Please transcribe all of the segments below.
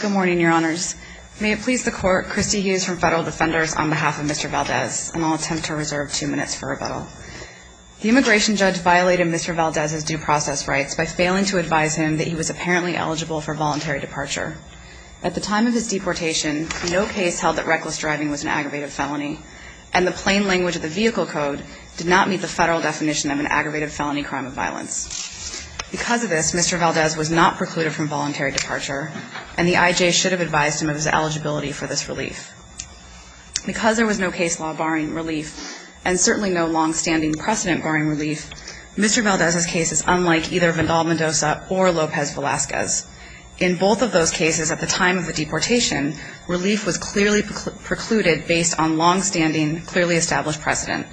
Good morning, your honors. May it please the court, Christy Hughes from Federal Defenders on behalf of Mr. Valdez, and I'll attempt to reserve two minutes for rebuttal. The immigration judge violated Mr. Valdez's due process rights by failing to advise him that he was apparently eligible for voluntary departure. At the time of his deportation, no case held that reckless driving was an aggravated felony, and the plain language of the vehicle code did not meet the federal definition of an aggravated felony crime of violence. Because of this, Mr. Valdez was not precluded from voluntary departure, and the IJ should have advised him of his eligibility for this relief. Because there was no case law barring relief, and certainly no longstanding precedent barring relief, Mr. Valdez's case is unlike either Vandal Mendoza or Lopez Velazquez. In both of those cases, at the time of the deportation, relief was clearly precluded based on longstanding, clearly established precedent.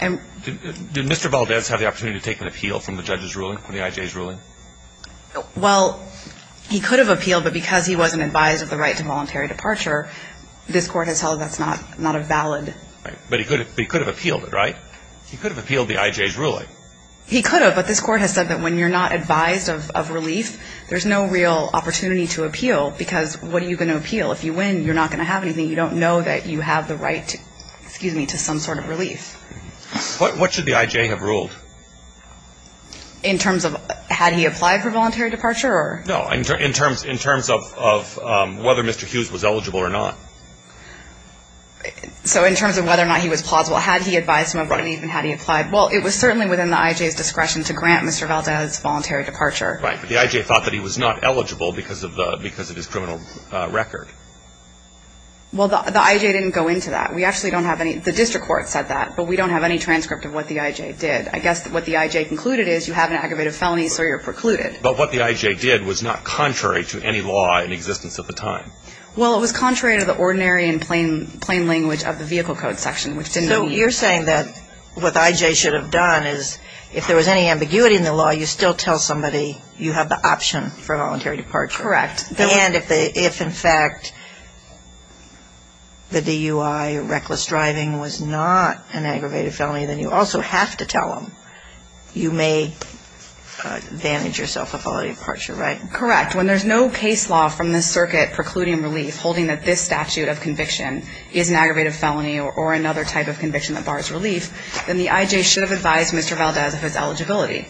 Do Mr. Valdez have the opportunity to take an appeal from the judge's ruling, from the IJ's ruling? Well, he could have appealed, but because he wasn't advised of the right to voluntary departure, this court has held that's not a valid. But he could have appealed it, right? He could have appealed the IJ's ruling. He could have, but this court has said that when you're not advised of relief, there's no real opportunity to appeal, because what are you going to appeal? If you win, you're not going to have anything. You don't know that you have the right, excuse me, to some sort of relief. What should the IJ have ruled? In terms of had he applied for voluntary departure or? No, in terms of whether Mr. Hughes was eligible or not. So in terms of whether or not he was plausible, had he advised him of relief and had he applied? Right. Well, it was certainly within the IJ's discretion to grant Mr. Valdez voluntary departure. Right, but the IJ thought that he was not eligible because of his criminal record. Well, the IJ didn't go into that. We actually don't have any, the district court said that, but we don't have any transcript of what the IJ did. I guess what the IJ concluded is you have an aggravated felony, so you're precluded. But what the IJ did was not contrary to any law in existence at the time. Well, it was contrary to the ordinary and plain language of the vehicle code section, which didn't mean anything. So you're saying that what the IJ should have done is if there was any ambiguity in the law, you still tell somebody you have the option for voluntary departure. Correct. And if in fact the DUI, reckless driving, was not an aggravated felony, then you also have to tell them you may advantage yourself of voluntary departure, right? Correct. When there's no case law from the circuit precluding relief holding that this statute of conviction is an aggravated felony or another type of conviction that bars relief, then the IJ should have advised Mr. Valdez of his eligibility.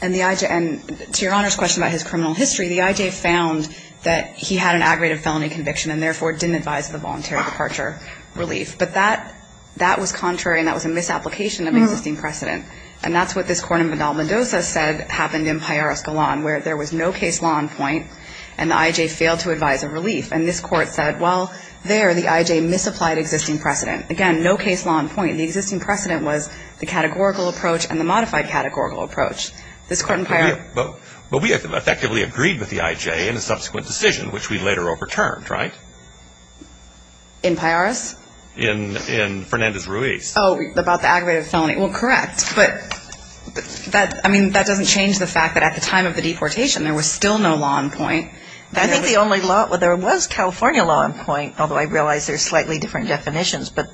And the IJ, and to Your Honor's question about his criminal history, the IJ found that he had an aggravated felony conviction and therefore didn't advise the voluntary departure relief. But that, that was contrary and that was a misapplication of existing precedent. And that's what this Court in Vidal-Mendoza said happened in Pajaro-Escalon, where there was no case law in point and the IJ failed to advise of relief. And this Court said, well, there the IJ misapplied existing precedent. Again, no case law in point. The existing precedent was the categorical approach and the modified categorical approach. This Court in Pajaro- But we effectively agreed with the IJ in a subsequent decision, which we later overturned, right? In Pajaros? In Fernandez-Ruiz. Oh, about the aggravated felony. Well, correct. But that, I mean, that doesn't change the fact that at the time of the deportation there was still no law in point. I think the only law, well, there was California law in point, although I realize there's slightly different definitions. But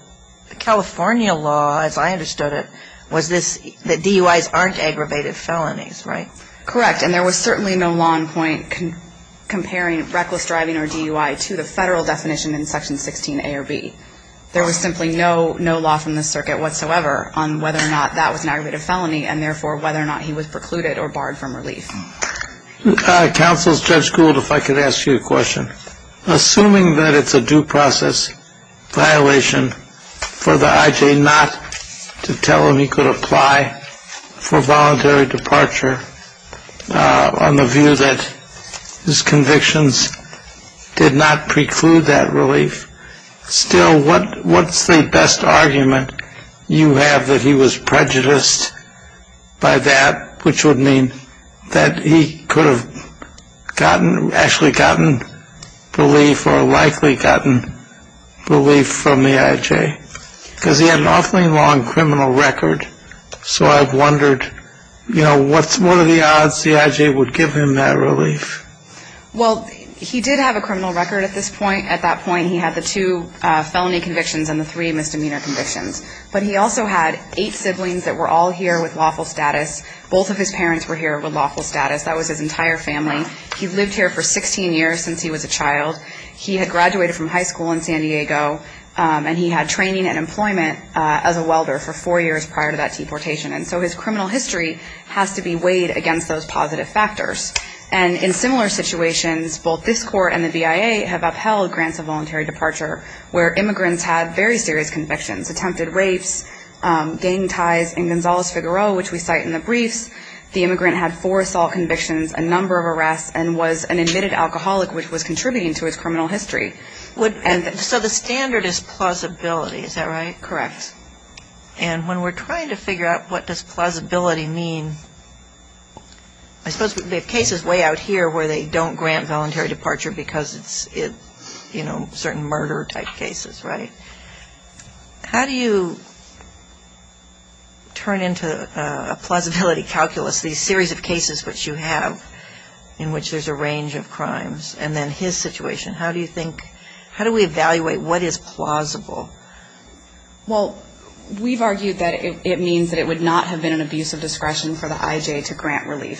the California law, as I understood it, was this, that DUIs aren't aggravated felonies, right? Correct. And there was certainly no law in point comparing reckless driving or DUI to the federal definition in Section 16A or B. There was simply no, no law from the circuit whatsoever on whether or not that was an aggravated felony and therefore whether or not he was precluded or barred from relief. Counsel, Judge Gould, if I could ask you a question. Assuming that it's a due process violation for the IJ not to tell him he could apply for voluntary departure on the view that his convictions did not preclude that relief, still what's the best argument you have that he was prejudiced by that, which would mean that he could have gotten, actually gotten relief or likely gotten relief from the IJ? Because he had an awfully long criminal record. So I've wondered, you know, what are the odds the IJ would give him that relief? Well, he did have a criminal record at this point. At that point he had the two felony convictions and the three misdemeanor convictions. But he also had eight siblings that were all here with lawful status. Both of his parents were here with lawful status. That was his entire family. He lived here for 16 years since he was a child. He had graduated from high school in San Diego, and he had training and employment as a welder for four years prior to that deportation. And so his criminal history has to be weighed against those positive factors. And in similar situations, both this court and the BIA have upheld grants of voluntary departure where immigrants had very serious convictions, attempted rapes, gang ties in Gonzales-Figueroa, which we cite in the briefs. The immigrant had four assault convictions, a number of arrests, and was an admitted alcoholic which was contributing to his criminal history. So the standard is plausibility, is that right? Correct. And when we're trying to figure out what does plausibility mean, I suppose the case is way out here where they don't grant voluntary departure because it's, you know, certain murder-type cases, right? How do you turn into a plausibility calculus these series of cases which you have, in which there's a range of crimes, and then his situation? How do you think, how do we evaluate what is plausible? Well, we've argued that it means that it would not have been an abuse of discretion for the IJ to grant relief.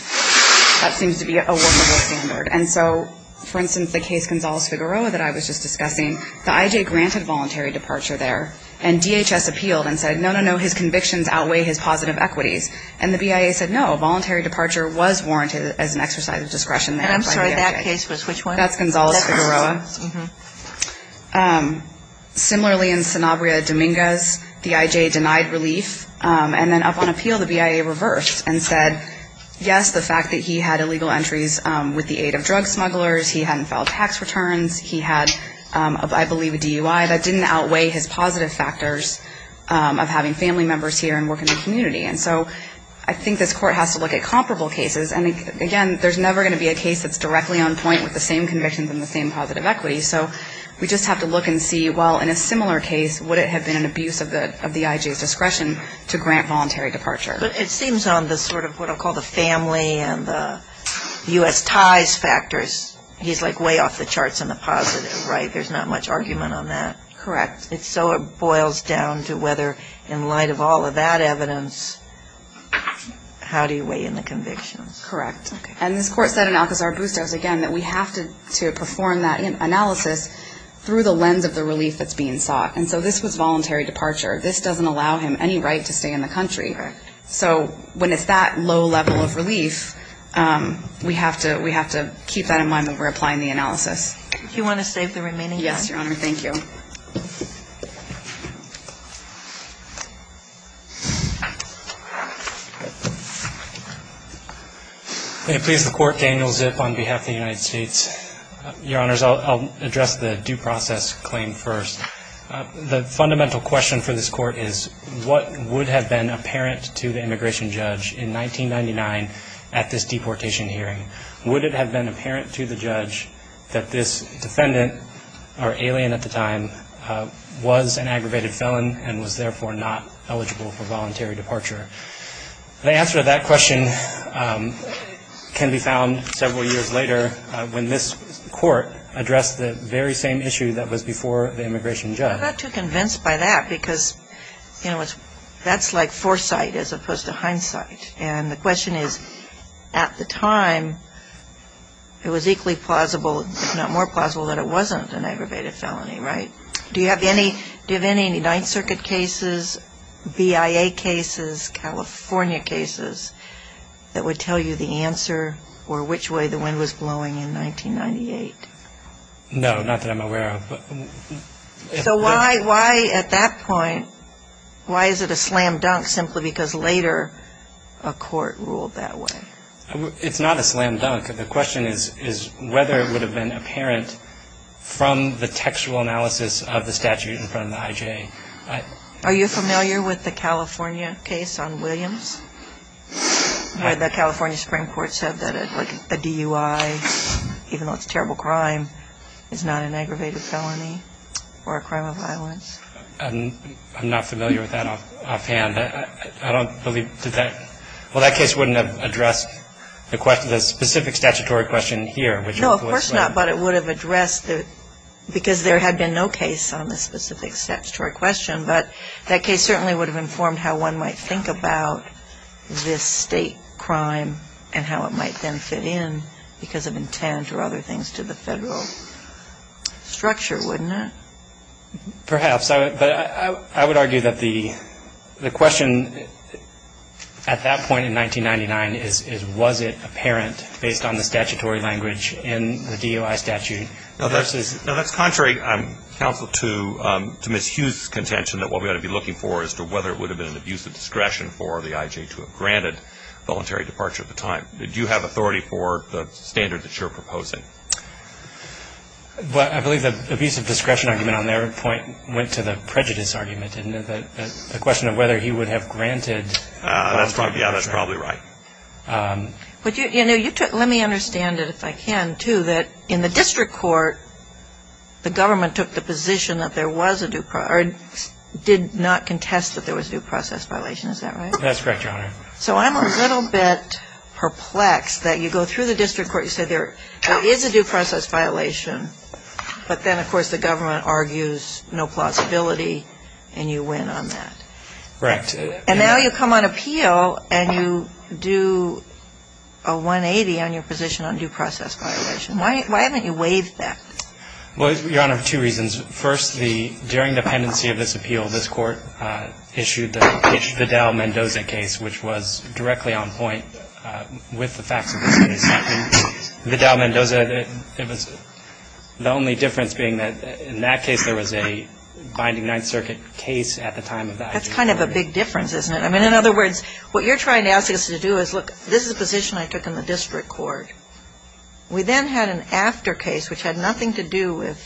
That seems to be a wonderful standard. And so, for instance, the case Gonzales-Figueroa that I was just discussing, the IJ granted voluntary departure there. And DHS appealed and said, no, no, no, his convictions outweigh his positive equities. And the BIA said, no, voluntary departure was warranted as an exercise of discretion. And I'm sorry, that case was which one? That's Gonzales-Figueroa. That's Gonzales, mm-hmm. Similarly, in Sanabria-Dominguez, the IJ denied relief. And then up on appeal, the BIA reversed and said, yes, the fact that he had illegal entries with the aid of drug smugglers, he hadn't filed tax returns, he had, I believe, a DUI, that didn't outweigh his positive factors of having family members here and working in the community. And so I think this Court has to look at comparable cases. And, again, there's never going to be a case that's directly on point with the same convictions and the same positive equities. So we just have to look and see, well, in a similar case, would it have been an abuse of the IJ's discretion to grant voluntary departure? But it seems on the sort of what I'll call the family and the U.S. ties factors, he's, like, way off the charts on the positive, right? There's not much argument on that. Correct. So it boils down to whether in light of all of that evidence, how do you weigh in the convictions? Correct. And this Court said in Alcazar-Bustos, again, that we have to perform that analysis through the lens of the relief that's being sought. And so this was voluntary departure. This doesn't allow him any right to stay in the country. Correct. So when it's that low level of relief, we have to keep that in mind when we're applying the analysis. Do you want to save the remaining time? Yes, Your Honor. Thank you. May it please the Court, Daniel Zip on behalf of the United States. Your Honors, I'll address the due process claim first. The fundamental question for this Court is, what would have been apparent to the immigration judge in 1999 at this deportation hearing? Would it have been apparent to the judge that this defendant, or alien at the time, was an aggravated felon and was therefore not eligible for voluntary departure? The answer to that question can be found several years later when this Court addressed the very same issue that was before the immigration judge. I'm not too convinced by that because, you know, that's like foresight as opposed to hindsight. And the question is, at the time, it was equally plausible, if not more plausible, that it wasn't an aggravated felony, right? Do you have any Ninth Circuit cases, BIA cases, California cases, that would tell you the answer or which way the wind was blowing in 1998? No, not that I'm aware of. So why at that point, why is it a slam dunk simply because later a court ruled that way? It's not a slam dunk. The question is whether it would have been apparent from the textual analysis of the statute in front of the IJ. Are you familiar with the California case on Williams, where the California Supreme Court said that a DUI, even though it's a terrible crime, is not an aggravated felony or a crime of violence? I'm not familiar with that offhand. I don't believe that that case wouldn't have addressed the specific statutory question here. No, of course not. But it would have addressed it because there had been no case on the specific statutory question. But that case certainly would have informed how one might think about this state crime and how it might then fit in because of intent or other things to the federal structure, wouldn't it? Perhaps. But I would argue that the question at that point in 1999 is, was it apparent based on the statutory language in the DUI statute? No, that's contrary, Counsel, to Ms. Hughes' contention that what we ought to be looking for is whether it would have been an abusive discretion for the IJ to have granted voluntary departure at the time. Do you have authority for the standard that you're proposing? I believe the abusive discretion argument on their point went to the prejudice argument, didn't it? The question of whether he would have granted voluntary departure. That's probably right. Let me understand it if I can, too, that in the district court, the government took the position that there was a due process or did not contest that there was a due process violation. Is that right? That's correct, Your Honor. So I'm a little bit perplexed that you go through the district court, you say there is a due process violation, but then, of course, the government argues no plausibility and you win on that. Correct. And now you come on appeal and you do a 180 on your position on due process violation. Why haven't you waived that? Well, Your Honor, two reasons. First, during the pendency of this appeal, this Court issued the Vidal-Mendoza case, which was directly on point with the facts of this case. Vidal-Mendoza, the only difference being that in that case, there was a binding Ninth Circuit case at the time of the IJ. That's kind of a big difference, isn't it? I mean, in other words, what you're trying to ask us to do is, look, this is a position I took in the district court. We then had an after case, which had nothing to do with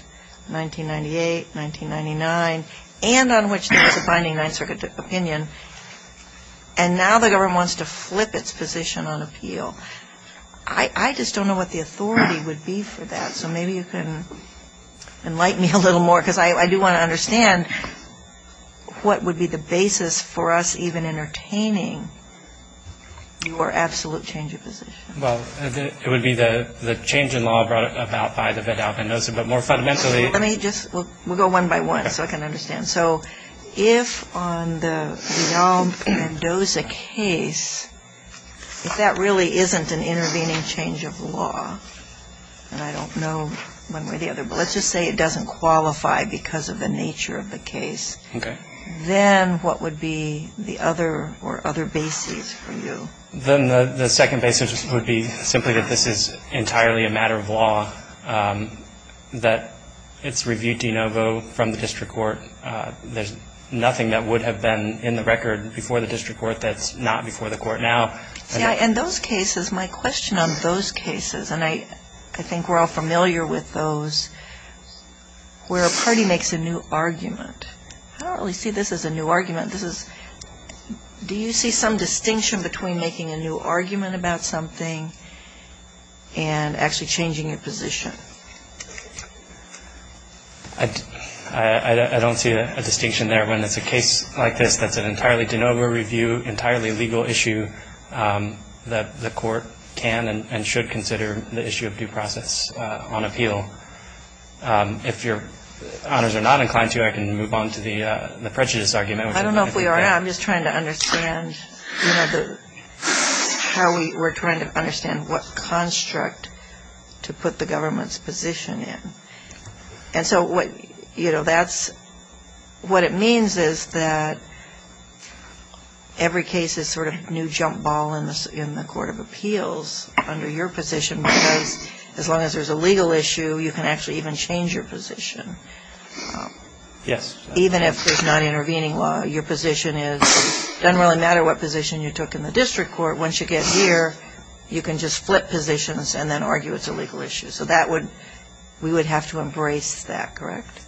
1998, 1999, and on which there was a binding Ninth Circuit opinion, and now the government wants to flip its position on appeal. I just don't know what the authority would be for that, So maybe you can enlighten me a little more, because I do want to understand what would be the basis for us even entertaining your absolute change of position. Well, it would be the change in law brought about by the Vidal-Mendoza, but more fundamentally Let me just, we'll go one by one so I can understand. So if on the Vidal-Mendoza case, if that really isn't an intervening change of law, and I don't know one way or the other, but let's just say it doesn't qualify because of the nature of the case. Okay. Then what would be the other or other basis for you? Then the second basis would be simply that this is entirely a matter of law, that it's reviewed de novo from the district court. There's nothing that would have been in the record before the district court that's not before the court now. And those cases, my question on those cases, and I think we're all familiar with those, where a party makes a new argument. I don't really see this as a new argument. This is, do you see some distinction between making a new argument about something and actually changing your position? I don't see a distinction there. When it's a case like this that's an entirely de novo review, entirely legal issue that the court can and should consider the issue of due process on appeal. If Your Honors are not inclined to, I can move on to the prejudice argument. I don't know if we are now. I'm just trying to understand how we're trying to understand what construct to put the government's position in. And so what, you know, that's, what it means is that every case is sort of new jump ball in the court of appeals under your position because as long as there's a legal issue, you can actually even change your position. Yes. Even if there's not intervening law, your position is, it doesn't really matter what position you took in the district court. Once you get here, you can just flip positions and then argue it's a legal issue. So that would, we would have to embrace that, correct?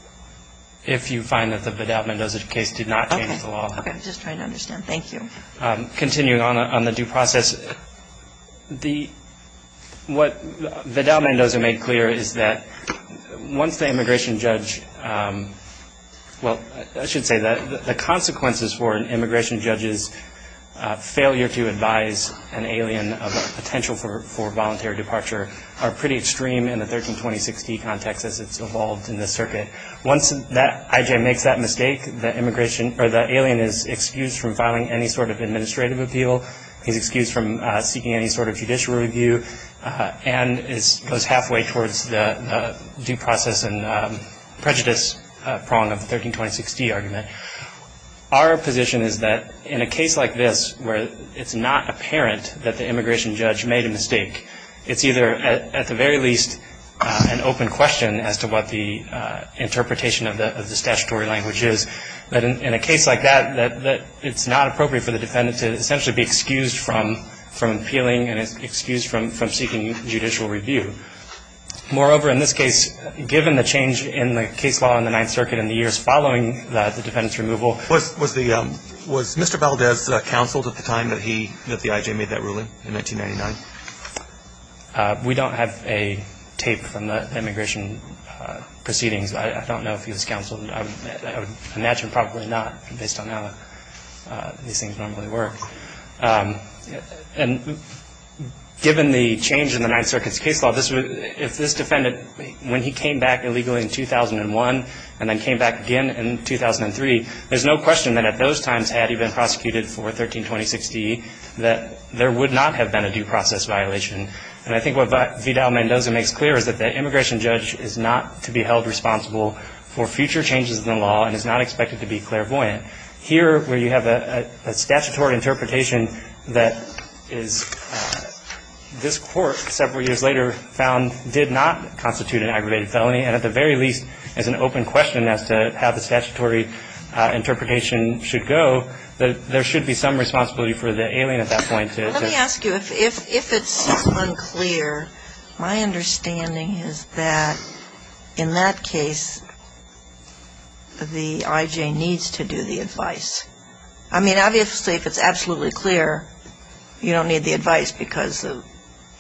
If you find that the Vidal-Mendoza case did not change the law. Okay, I'm just trying to understand. Thank you. Continuing on the due process, the, what Vidal-Mendoza made clear is that once the immigration judge, well, I should say that the consequences for an immigration judge's failure to advise an alien of potential for voluntary departure are pretty extreme in the 1320-60 context as it's evolved in this circuit. Once that, I.J. makes that mistake, the immigration, or the alien is excused from filing any sort of administrative appeal. He's excused from seeking any sort of judicial review and is, goes halfway towards the due process and prejudice prong of the 1320-60 argument. Our position is that in a case like this where it's not apparent that the immigration judge made a mistake, it's either at the very least an open question as to what the interpretation of the statutory language is. But in a case like that, that it's not appropriate for the defendant to essentially be excused from appealing and is excused from seeking judicial review. Moreover, in this case, given the change in the case law in the Ninth Circuit in the years following the defendant's removal. Was, was the, was Mr. Valdez counseled at the time that he, that the I.J. made that ruling in 1999? We don't have a tape from the immigration proceedings. I don't know if he was counseled. I would imagine probably not based on how these things normally work. And given the change in the Ninth Circuit's case law, this would, if this defendant, when he came back illegally in 2001 and then came back again in 2003, there's no question that at those times had he been prosecuted for 1320-60, that there would not have been a due process violation. And I think what Vidal-Mendoza makes clear is that the immigration judge is not to be held responsible for future changes in the law and is not expected to be clairvoyant. Here, where you have a statutory interpretation that is, this court several years later found did not constitute an aggravated felony. And at the very least, as an open question as to how the statutory interpretation should go, there should be some responsibility for the alien at that point to Let me ask you, if it seems unclear, my understanding is that in that case, the I.J. needs to do the advice. I mean, obviously, if it's absolutely clear, you don't need the advice because the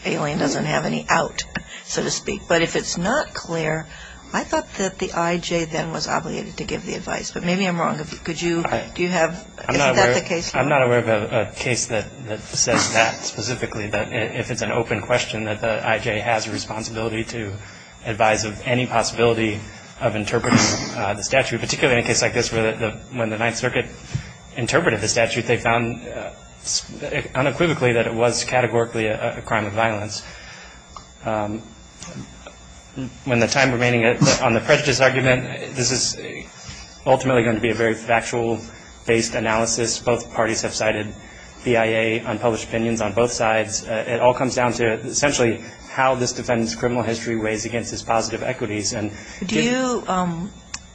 alien doesn't have any out, so to speak. But if it's not clear, I thought that the I.J. then was obligated to give the advice. But maybe I'm wrong. Could you, do you have, is that the case? I'm not aware of a case that says that specifically, that if it's an open question that the I.J. has a responsibility to advise of any possibility of interpreting the statute, particularly in a case like this, where when the Ninth Circuit interpreted the statute, they found unequivocally that it was categorically a crime of violence. When the time remaining on the prejudice argument, this is ultimately going to be a very factual-based analysis. Both parties have cited BIA unpublished opinions on both sides. It all comes down to, essentially, how this defendant's criminal history weighs against his positive equities. Do you,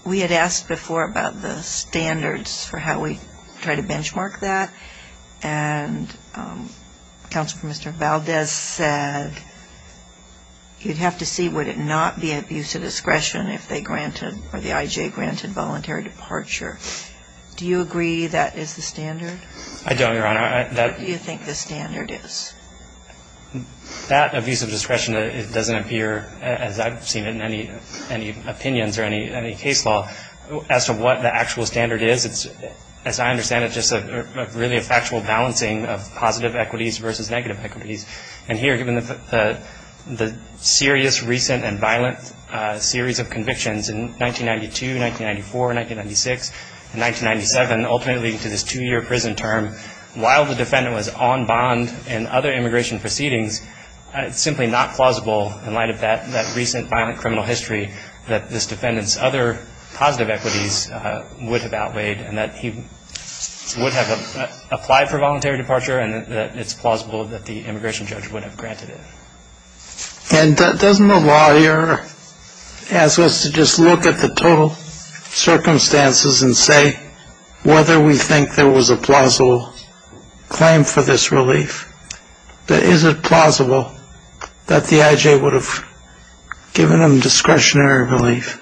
we had asked before about the standards for how we try to benchmark that. And Counsel for Mr. Valdez said, you'd have to see would it not be abuse of discretion if they granted, or the I.J. granted voluntary departure. Do you agree that is the standard? I don't, Your Honor. What do you think the standard is? That abuse of discretion, it doesn't appear, as I've seen it in any opinions or any case law, as to what the actual standard is. It's, as I understand it, just really a factual balancing of positive equities versus negative equities. And here, given the serious, recent, and violent series of convictions in 1992, 1994, 1996, and 1997, ultimately leading to this two-year prison term, while the defendant was on bond in other immigration proceedings, it's simply not plausible in light of that recent violent criminal history that this defendant's other positive equities would have outweighed and that he would have applied for voluntary departure and that it's plausible that the immigration judge would have granted it. And doesn't the lawyer ask us to just look at the total circumstances and say whether we think there was a plausible claim for this relief? Is it plausible that the I.J. would have given him discretionary relief?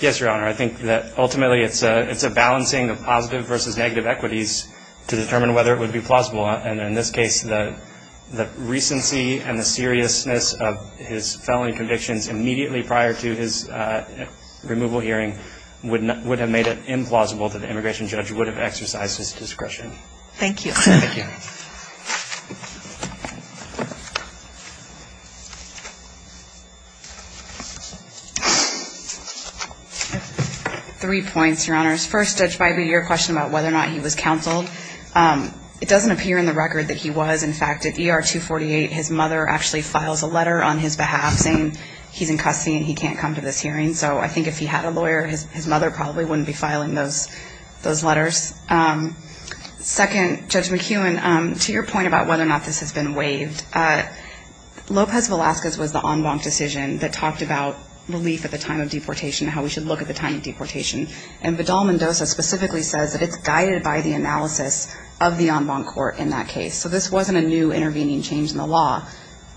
Yes, Your Honor. I think that ultimately it's a balancing of positive versus negative equities to determine whether it would be plausible. And in this case, the recency and the seriousness of his felony convictions immediately prior to his removal hearing would have made it implausible that the immigration judge would have exercised his discretion. Thank you. Thank you. Three points, Your Honors. First, Judge Bybee, your question about whether or not he was counseled, it doesn't appear in the record that he was. In fact, at ER 248, his mother actually files a letter on his behalf saying he's in custody and he can't come to this hearing. So I think if he had a lawyer, his mother probably wouldn't be filing those letters. Second, Judge McEwen, to your point about whether or not this has been waived, Lopez Velasquez was the en banc decision that talked about relief at the time of deportation and how we should look at the time of deportation. And Vidal-Mendoza specifically says that it's guided by the analysis of the en banc court in that case. So this wasn't a new intervening change in the law.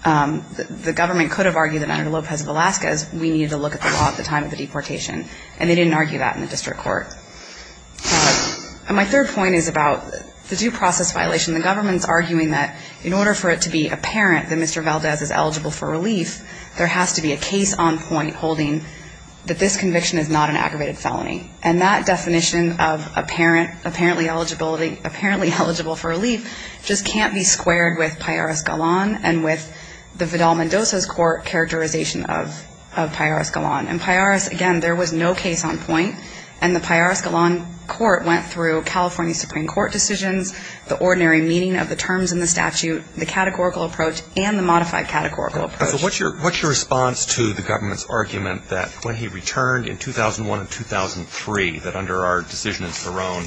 The government could have argued that under Lopez Velasquez, we needed to look at the law at the time of the deportation. And they didn't argue that in the district court. And my third point is about the due process violation. The government's arguing that in order for it to be apparent that Mr. Valdez is eligible for relief, there has to be a case on point holding that this conviction is not an aggravated felony. And that definition of apparent, apparently eligibility, apparently eligible for relief just can't be squared with Pallares Galan and with the Vidal-Mendoza's court characterization of Pallares Galan. And Pallares, again, there was no case on point. And the Pallares Galan court went through California Supreme Court decisions, the ordinary meeting of the terms in the statute, the categorical approach, and the modified categorical approach. So what's your response to the government's argument that when he returned in 2001 and 2003, that under our decision in Saron,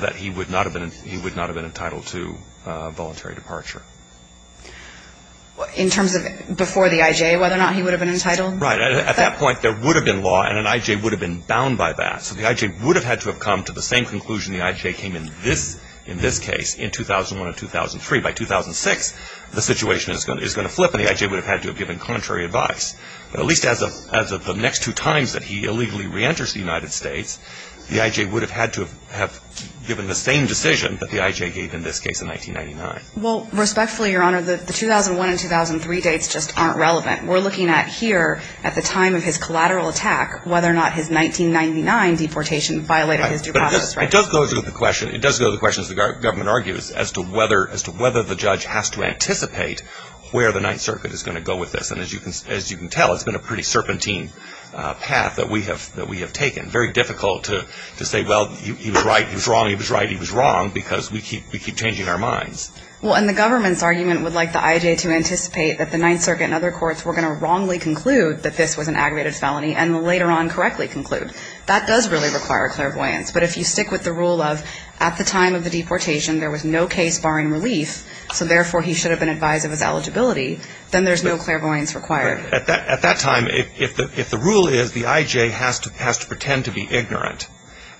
that he would not have been entitled to voluntary departure? In terms of before the I.J., whether or not he would have been entitled? Right. At that point, there would have been law, and an I.J. would have been bound by that. So the I.J. would have had to have come to the same conclusion the I.J. came in this case in 2001 and 2003. By 2006, the situation is going to flip, and the I.J. would have had to have given contrary advice. But at least as of the next two times that he illegally reenters the United States, the I.J. would have had to have given the same decision that the I.J. gave in this case in 1999. Well, respectfully, Your Honor, the 2001 and 2003 dates just aren't relevant. We're looking at here, at the time of his collateral attack, whether or not his 1999 deportation violated his due process. But it does go to the question, it does go to the questions the government argues as to whether the judge has to anticipate where the Ninth Circuit is going to go with this. And as you can tell, it's been a pretty serpentine path that we have taken. Very difficult to say, well, he was right, he was wrong, he was right, he was wrong, because we keep changing our minds. Well, and the government's argument would like the I.J. to anticipate that the Ninth Circuit and other courts were going to wrongly conclude that this was an aggravated felony and later on correctly conclude. That does really require clairvoyance. But if you stick with the rule of at the time of the deportation there was no case barring relief, so therefore he should have been advised of his eligibility, then there's no clairvoyance required. At that time, if the rule is the I.J. has to pretend to be ignorant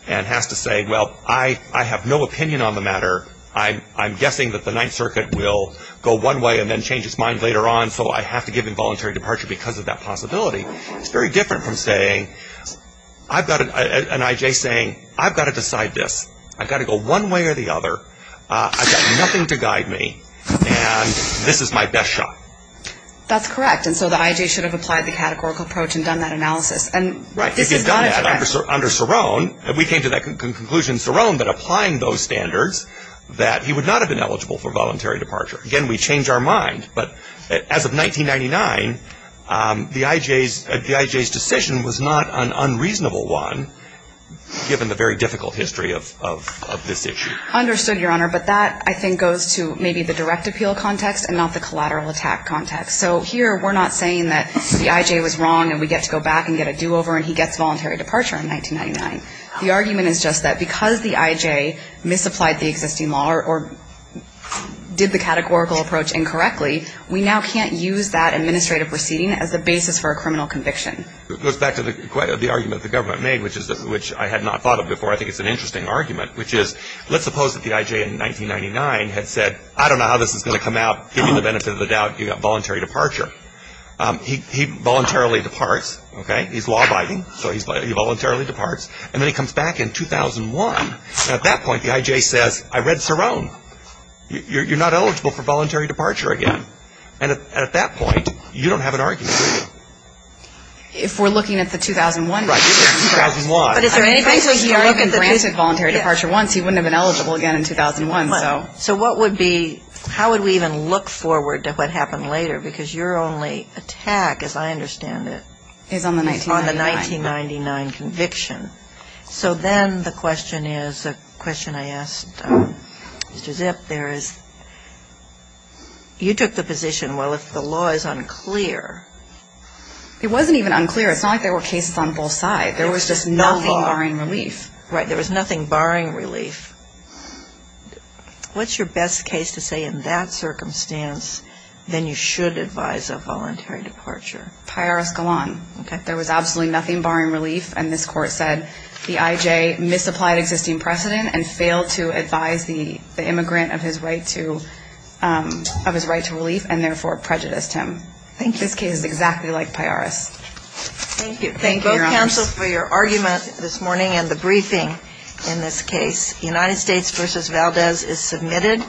and has to say, well, I have no opinion on the matter, I'm guessing that the Ninth Circuit will go one way and then change its mind later on, so I have to give involuntary departure because of that possibility. It's very different from saying, I've got an I.J. saying, I've got to decide this, I've got to go one way or the other, I've got nothing to guide me, and this is my best shot. That's correct. And so the I.J. should have applied the categorical approach and done that analysis. Right. If he had done that under Cerrone, if we came to that conclusion in Cerrone that applying those standards that he would not have been eligible for voluntary departure. Again, we change our mind, but as of 1999, the I.J.'s decision was not an unreasonable one given the very difficult history of this issue. Understood, Your Honor. But that, I think, goes to maybe the direct appeal context and not the collateral attack context. So here we're not saying that the I.J. was wrong and we get to go back and get a do-over and he gets voluntary departure in 1999. The argument is just that because the I.J. misapplied the existing law or did the categorical approach incorrectly, we now can't use that administrative proceeding as the basis for a criminal conviction. It goes back to the argument the government made, which I had not thought of before. I think it's an interesting argument, which is let's suppose that the I.J. in 1999 had said, I don't know how this is going to come out. Given the benefit of the doubt, you've got voluntary departure. He voluntarily departs, okay? He's law-abiding, so he voluntarily departs. And then he comes back in 2001. At that point, the I.J. says, I read Cerrone. You're not eligible for voluntary departure again. And at that point, you don't have an argument. If we're looking at the 2001. Right, 2001. But is there any place where he's not even granted voluntary departure once, he wouldn't have been eligible again in 2001. So how would we even look forward to what happened later? Because your only attack, as I understand it, is on the 1999 conviction. So then the question is, a question I asked Mr. Zipp, there is you took the position, well, if the law is unclear. It wasn't even unclear. It's not like there were cases on both sides. Right, there was just nothing barring relief. Right, there was nothing barring relief. What's your best case to say in that circumstance, then you should advise of voluntary departure? Piaris Galan. Okay. There was absolutely nothing barring relief. And this Court said the I.J. misapplied existing precedent and failed to advise the immigrant of his right to relief and, therefore, prejudiced him. Thank you. This case is exactly like Piaris. Thank you. Thank you both counsel for your argument this morning and the briefing in this case. United States v. Valdez is submitted.